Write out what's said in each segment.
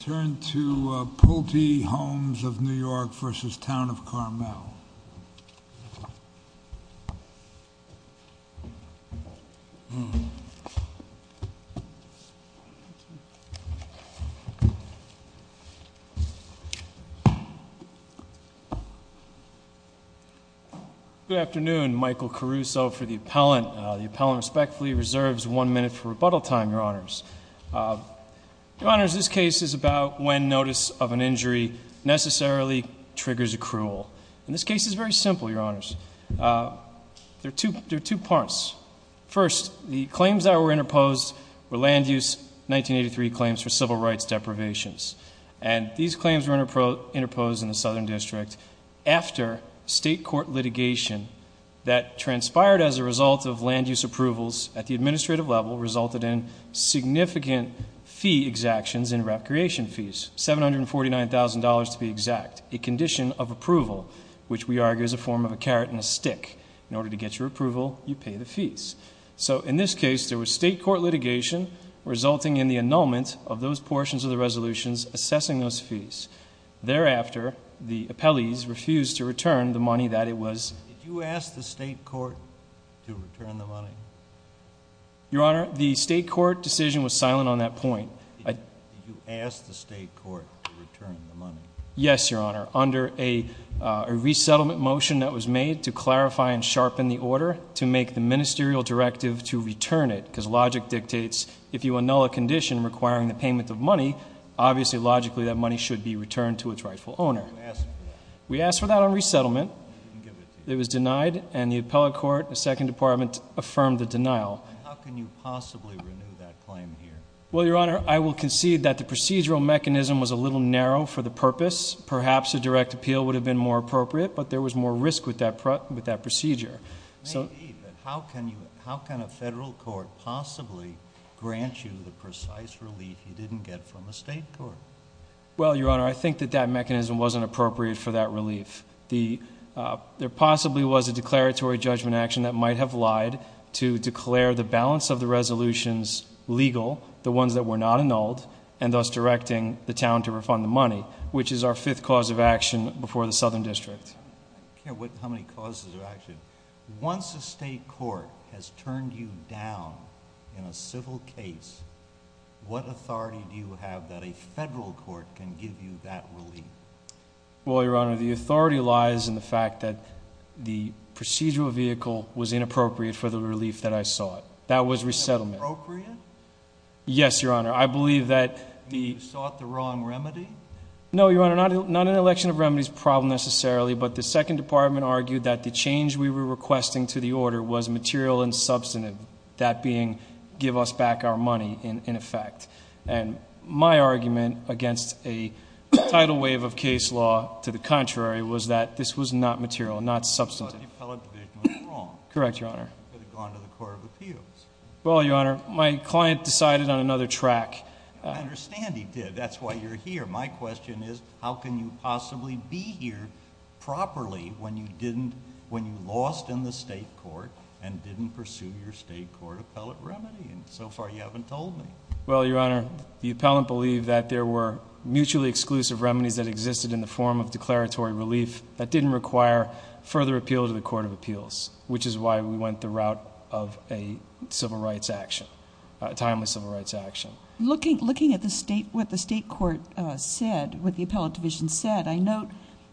Turn to Pulte Homes of New York v. Town of Carmel. Good afternoon. Michael Caruso for the appellant. The appellant respectfully reserves one minute for rebuttal time, Your Honors. Your Honors, this case is about when notice of an injury necessarily triggers accrual. And this case is very simple, Your Honors. There are two parts. First, the claims that were interposed were land use 1983 claims for civil rights deprivations. And these claims were interposed in the Southern District after state court litigation that transpired as a result of land use approvals at the administrative level resulted in significant fee exactions and recreation fees. $749,000 to be exact. A condition of approval, which we argue is a form of a carrot and a stick. In order to get your approval, you pay the fees. So in this case, there was state court litigation resulting in the annulment of those portions of the resolutions assessing those fees. Thereafter, the appellees refused to return the money that it was. Did you ask the state court to return the money? Your Honor, the state court decision was silent on that point. Did you ask the state court to return the money? Yes, Your Honor. Under a resettlement motion that was made to clarify and sharpen the order to make the ministerial directive to return it. Because logic dictates if you annul a condition requiring the payment of money, obviously logically that money should be returned to its rightful owner. Did you ask for that? We asked for that on resettlement. It was denied. And the appellate court, the second department, affirmed the denial. How can you possibly renew that claim here? Well, Your Honor, I will concede that the procedural mechanism was a little narrow for the purpose. Perhaps a direct appeal would have been more appropriate. But there was more risk with that procedure. How can a federal court possibly grant you the precise relief you didn't get from a state court? Well, Your Honor, I think that that mechanism wasn't appropriate for that relief. There possibly was a declaratory judgment action that might have lied to declare the balance of the resolutions legal, the ones that were not annulled, and thus directing the town to refund the money, which is our fifth cause of action before the Southern District. I can't wait to hear how many causes of action. Once a state court has turned you down in a civil case, what authority do you have that a federal court can give you that relief? Well, Your Honor, the authority lies in the fact that the procedural vehicle was inappropriate for the relief that I sought. That was resettlement. Inappropriate? Yes, Your Honor. You sought the wrong remedy? No, Your Honor, not an election of remedies problem necessarily, but the Second Department argued that the change we were requesting to the order was material and substantive, that being give us back our money, in effect. And my argument against a tidal wave of case law to the contrary was that this was not material, not substantive. But the appellate division was wrong. Correct, Your Honor. It could have gone to the Court of Appeals. Well, Your Honor, my client decided on another track. I understand he did. That's why you're here. My question is how can you possibly be here properly when you lost in the state court and didn't pursue your state court appellate remedy? And so far you haven't told me. Well, Your Honor, the appellant believed that there were mutually exclusive remedies that existed in the form of declaratory relief that didn't require further appeal to the Court of Appeals, which is why we went the route of a civil rights action, a timely civil rights action. Looking at what the state court said, what the appellate division said, I note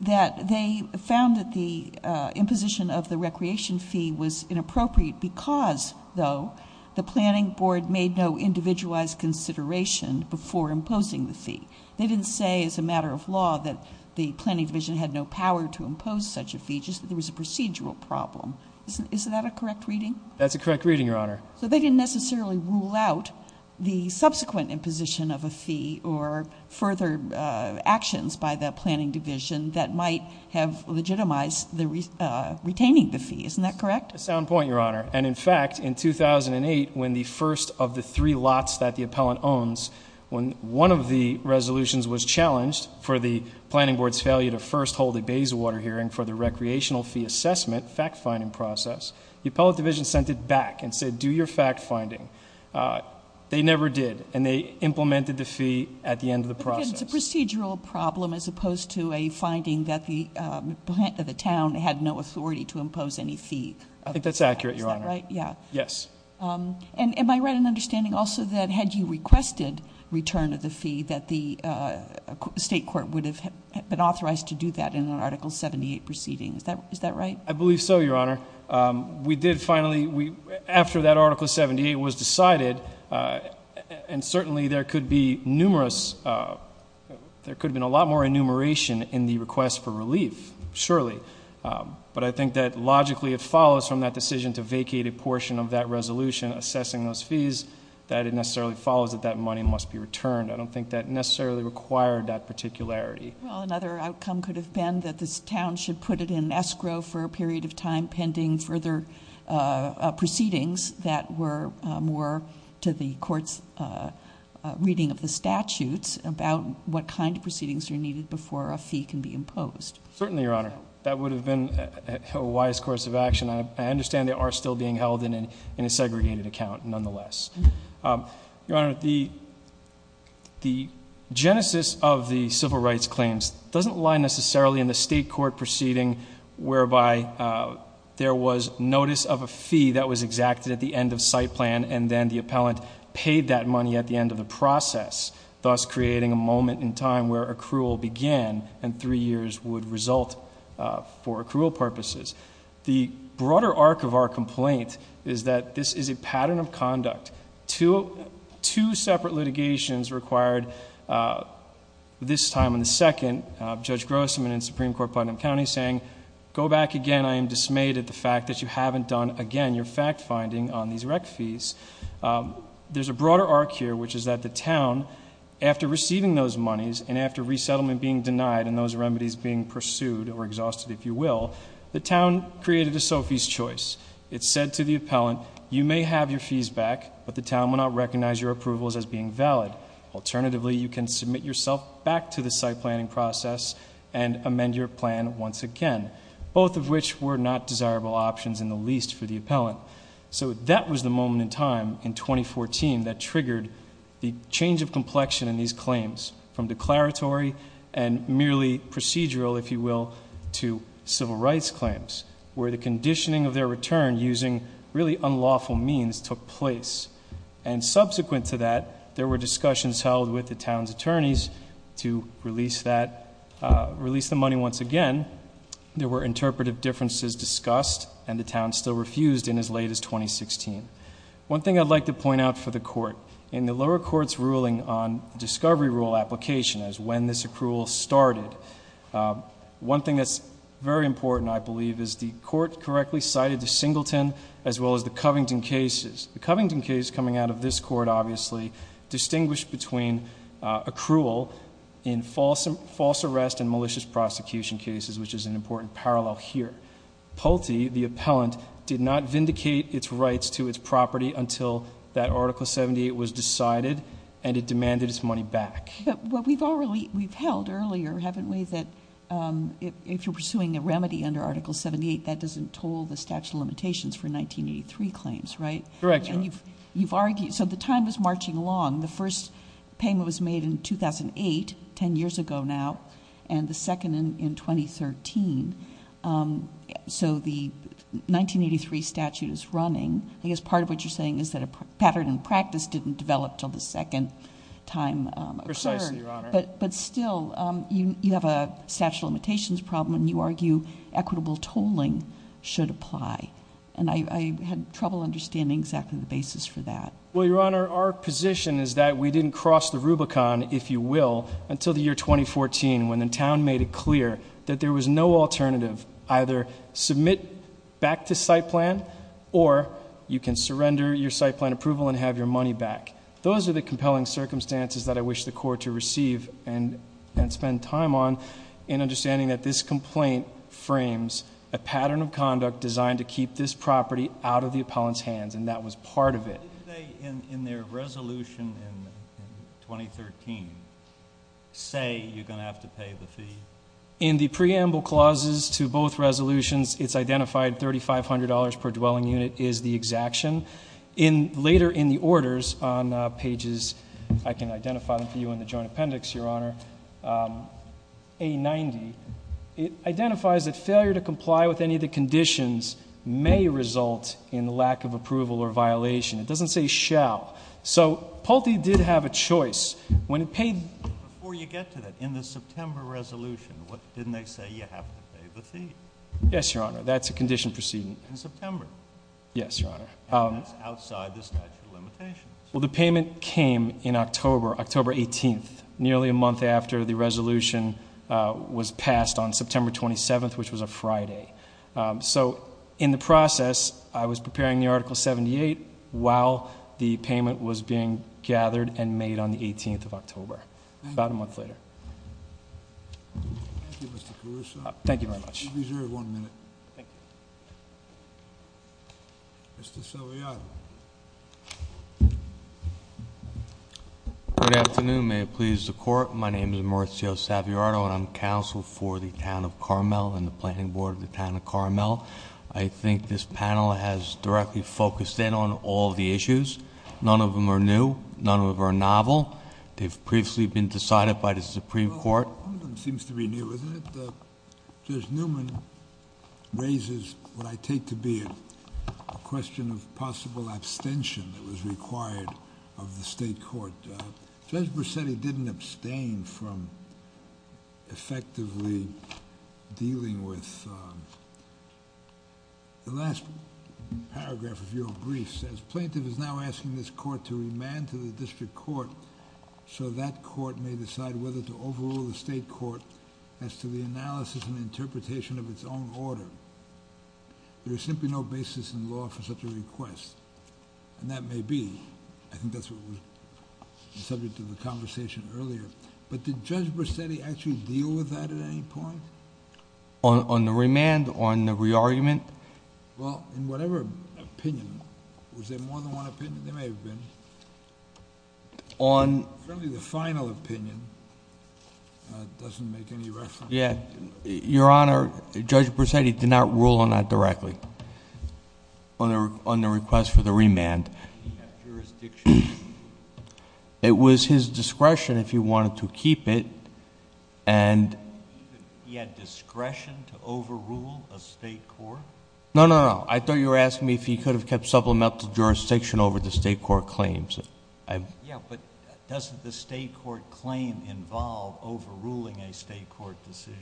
that they found that the imposition of the recreation fee was inappropriate because, though, the planning board made no individualized consideration before imposing the fee. They didn't say as a matter of law that the planning division had no power to impose such a fee, just that there was a procedural problem. Is that a correct reading? That's a correct reading, Your Honor. So they didn't necessarily rule out the subsequent imposition of a fee or further actions by the planning division that might have legitimized retaining the fee. Isn't that correct? A sound point, Your Honor. And, in fact, in 2008, when the first of the three lots that the appellant owns, when one of the resolutions was challenged for the planning board's failure to first hold a Bayswater hearing for the recreational fee assessment fact-finding process, the appellate division sent it back and said, do your fact-finding. They never did, and they implemented the fee at the end of the process. It's a procedural problem as opposed to a finding that the plant of the town had no authority to impose any fee. I think that's accurate, Your Honor. Is that right? Yes. And am I right in understanding also that had you requested return of the fee, that the state court would have been authorized to do that in an Article 78 proceeding? Is that right? I believe so, Your Honor. We did finally, after that Article 78 was decided, and certainly there could be numerous, there could have been a lot more enumeration in the request for relief, surely. But I think that logically it follows from that decision to vacate a portion of that resolution assessing those fees that it necessarily follows that that money must be returned. I don't think that necessarily required that particularity. Well, another outcome could have been that this town should put it in escrow for a period of time, pending further proceedings that were more to the court's reading of the statutes about what kind of proceedings are needed before a fee can be imposed. Certainly, Your Honor. That would have been a wise course of action. I understand they are still being held in a segregated account nonetheless. Your Honor, the genesis of the civil rights claims doesn't lie necessarily in the state court proceeding whereby there was notice of a fee that was exacted at the end of site plan and then the appellant paid that money at the end of the process, thus creating a moment in time where accrual began and three years would result for accrual purposes. The broader arc of our complaint is that this is a pattern of conduct. Two separate litigations required this time and the second, Judge Grossman in Supreme Court Putnam County saying, Go back again. I am dismayed at the fact that you haven't done, again, your fact finding on these rec fees. There's a broader arc here, which is that the town, after receiving those monies and after resettlement being denied and those remedies being pursued or exhausted, if you will, the town created a Sophie's Choice. It said to the appellant, you may have your fees back, but the town will not recognize your approvals as being valid. Alternatively, you can submit yourself back to the site planning process and amend your plan once again, both of which were not desirable options in the least for the appellant. So that was the moment in time in 2014 that triggered the change of complexion in these claims from declaratory and merely procedural, if you will, to civil rights claims, where the conditioning of their return using really unlawful means took place. And subsequent to that, there were discussions held with the town's attorneys to release the money once again. There were interpretive differences discussed, and the town still refused in as late as 2016. One thing I'd like to point out for the court, in the lower court's ruling on discovery rule application as when this accrual started, one thing that's very important, I believe, is the court correctly cited the Singleton as well as the Covington cases. The Covington case coming out of this court obviously distinguished between accrual in false arrest and malicious prosecution cases, which is an important parallel here. Pulte, the appellant, did not vindicate its rights to its property until that Article 78 was decided, and it demanded its money back. But we've held earlier, haven't we, that if you're pursuing a remedy under Article 78, that doesn't toll the statute of limitations for 1983 claims, right? Correct, Your Honor. So the time is marching along. The first payment was made in 2008, 10 years ago now, and the second in 2013. So the 1983 statute is running. I guess part of what you're saying is that a pattern in practice didn't develop until the second time occurred. Precisely, Your Honor. But still, you have a statute of limitations problem, and you argue equitable tolling should apply. And I had trouble understanding exactly the basis for that. Well, Your Honor, our position is that we didn't cross the Rubicon, if you will, until the year 2014 when the town made it clear that there was no alternative. Either submit back to site plan, or you can surrender your site plan approval and have your money back. Those are the compelling circumstances that I wish the court to receive and spend time on in understanding that this complaint frames a pattern of conduct designed to keep this property out of the appellant's hands, and that was part of it. Didn't they, in their resolution in 2013, say you're going to have to pay the fee? In the preamble clauses to both resolutions, it's identified $3,500 per dwelling unit is the exaction. Later in the orders on pages, I can identify them for you in the joint appendix, Your Honor, A90, it identifies that failure to comply with any of the conditions may result in lack of approval or violation. It doesn't say shall. So Pulte did have a choice. When it paid the fee. Before you get to that, in the September resolution, didn't they say you have to pay the fee? Yes, Your Honor. That's a condition proceeding. In September? Yes, Your Honor. And that's outside the statute of limitations. Well, the payment came in October, October 18th, nearly a month after the resolution was passed on September 27th, which was a Friday. So in the process, I was preparing the Article 78 while the payment was being gathered and made on the 18th of October. Thank you. About a month later. Thank you, Mr. Caruso. Thank you very much. You reserve one minute. Thank you. Mr. Saviato. Good afternoon. May it please the Court. My name is Mauricio Saviato, and I'm counsel for the town of Carmel and the planning board of the town of Carmel. I think this panel has directly focused in on all the issues. None of them are new. None of them are novel. They've previously been decided by the Supreme Court. Well, one of them seems to be new, isn't it? Judge Newman raises what I take to be a question of possible abstention that was required of the state court. Judge Bracetti didn't abstain from effectively dealing with the last paragraph of your brief. Plaintiff is now asking this court to remand to the district court so that court may decide whether to overrule the state court as to the analysis and interpretation of its own order. There is simply no basis in law for such a request, and that may be. I think that's what was the subject of the conversation earlier, but did Judge Bracetti actually deal with that at any point? On the remand, on the re-argument? Well, in whatever opinion, was there more than one opinion? There may have been. On... Apparently the final opinion doesn't make any reference. Yeah. Your Honor, Judge Bracetti did not rule on that directly on the request for the remand. He had jurisdiction. He had discretion to overrule a state court? No, no, no. I thought you were asking me if he could have kept supplemental jurisdiction over the state court claims. Yeah, but doesn't the state court claim involve overruling a state court decision?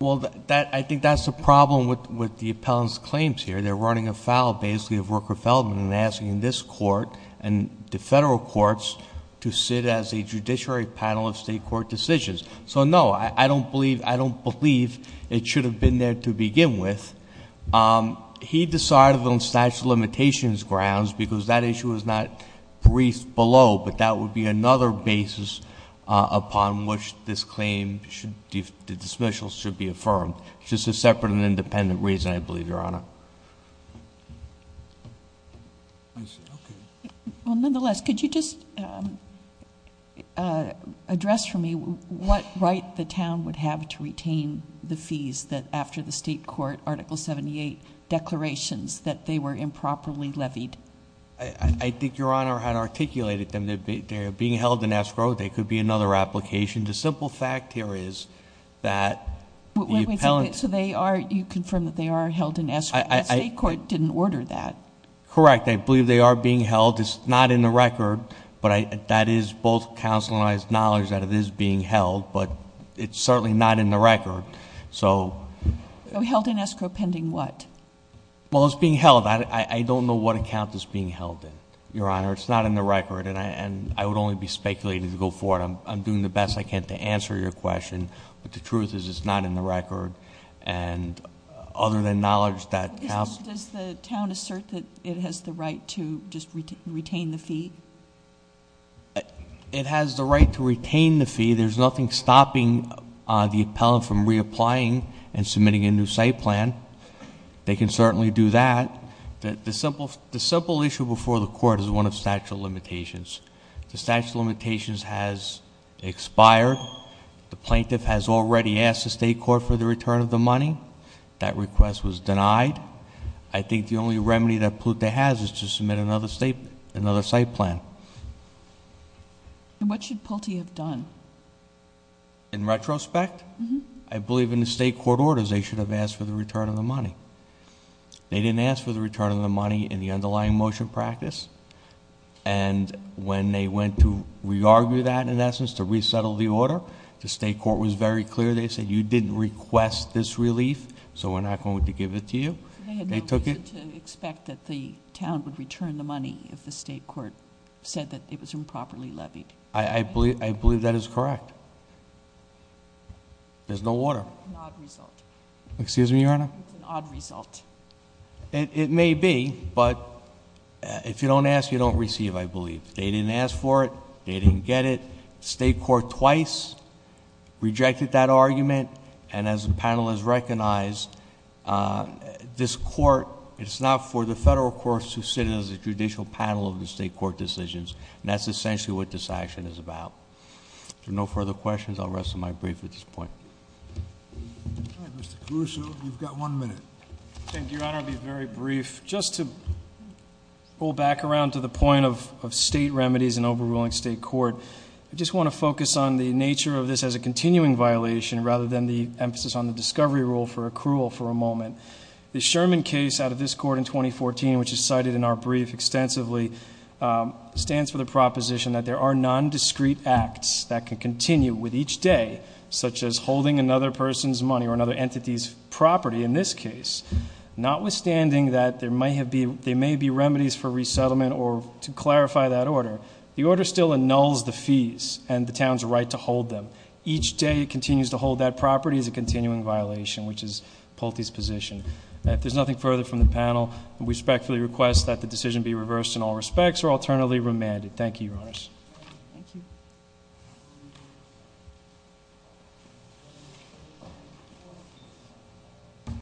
Well, I think that's the problem with the appellant's claims here. They're running afoul, basically, of Rooker-Feldman and asking this court and the federal courts to sit as a judiciary panel of state court decisions. So, no, I don't believe it should have been there to begin with. He decided on statute of limitations grounds because that issue was not briefed below, but that would be another basis upon which this claim, the dismissal, should be affirmed. It's just a separate and independent reason, I believe, Your Honor. I see. Okay. Well, nonetheless, could you just address for me what right the town would have to retain the fees that after the state court, Article 78 declarations, that they were improperly levied? I think Your Honor had articulated them. They're being held in escrow. They could be another application. The simple fact here is that the appellant- So you confirm that they are held in escrow? The state court didn't order that. Correct. I believe they are being held. It's not in the record, but that is both counsel and I's knowledge that it is being held, but it's certainly not in the record. So held in escrow pending what? Well, it's being held. I don't know what account it's being held in, Your Honor. It's not in the record, and I would only be speculating to go forward. I'm doing the best I can to answer your question, but the truth is it's not in the record. And other than knowledge that counsel- Does the town assert that it has the right to just retain the fee? It has the right to retain the fee. There's nothing stopping the appellant from reapplying and submitting a new site plan. They can certainly do that. The simple issue before the court is one of statute of limitations. The statute of limitations has expired. The plaintiff has already asked the state court for the return of the money. That request was denied. I think the only remedy that Pulte has is to submit another site plan. And what should Pulte have done? In retrospect, I believe in the state court orders they should have asked for the return of the money. They didn't ask for the return of the money in the underlying motion practice, and when they went to re-argue that, in essence, to resettle the order, the state court was very clear. They said, you didn't request this relief, so we're not going to give it to you. They had no reason to expect that the town would return the money if the state court said that it was improperly levied. I believe that is correct. There's no order. It's an odd result. Excuse me, Your Honor? It's an odd result. It may be, but if you don't ask, you don't receive, I believe. They didn't ask for it. They didn't get it. State court twice rejected that argument, and as the panel has recognized, this court, it's not for the federal courts to sit as a judicial panel of the state court decisions, and that's essentially what this action is about. If there are no further questions, I'll rest my brief at this point. All right, Mr. Caruso, you've got one minute. Thank you, Your Honor. I'll be very brief. Just to pull back around to the point of state remedies and overruling state court, I just want to focus on the nature of this as a continuing violation, rather than the emphasis on the discovery rule for accrual for a moment. The Sherman case out of this court in 2014, which is cited in our brief extensively, stands for the proposition that there are nondiscreet acts that can continue with each day, such as holding another person's money or another entity's property in this case. Notwithstanding that there may be remedies for resettlement or, to clarify that order, the order still annuls the fees and the town's right to hold them. Each day it continues to hold that property is a continuing violation, which is Pulte's position. If there's nothing further from the panel, we respectfully request that the decision be reversed in all respects or alternately remanded. Thank you, Your Honors. Thank you.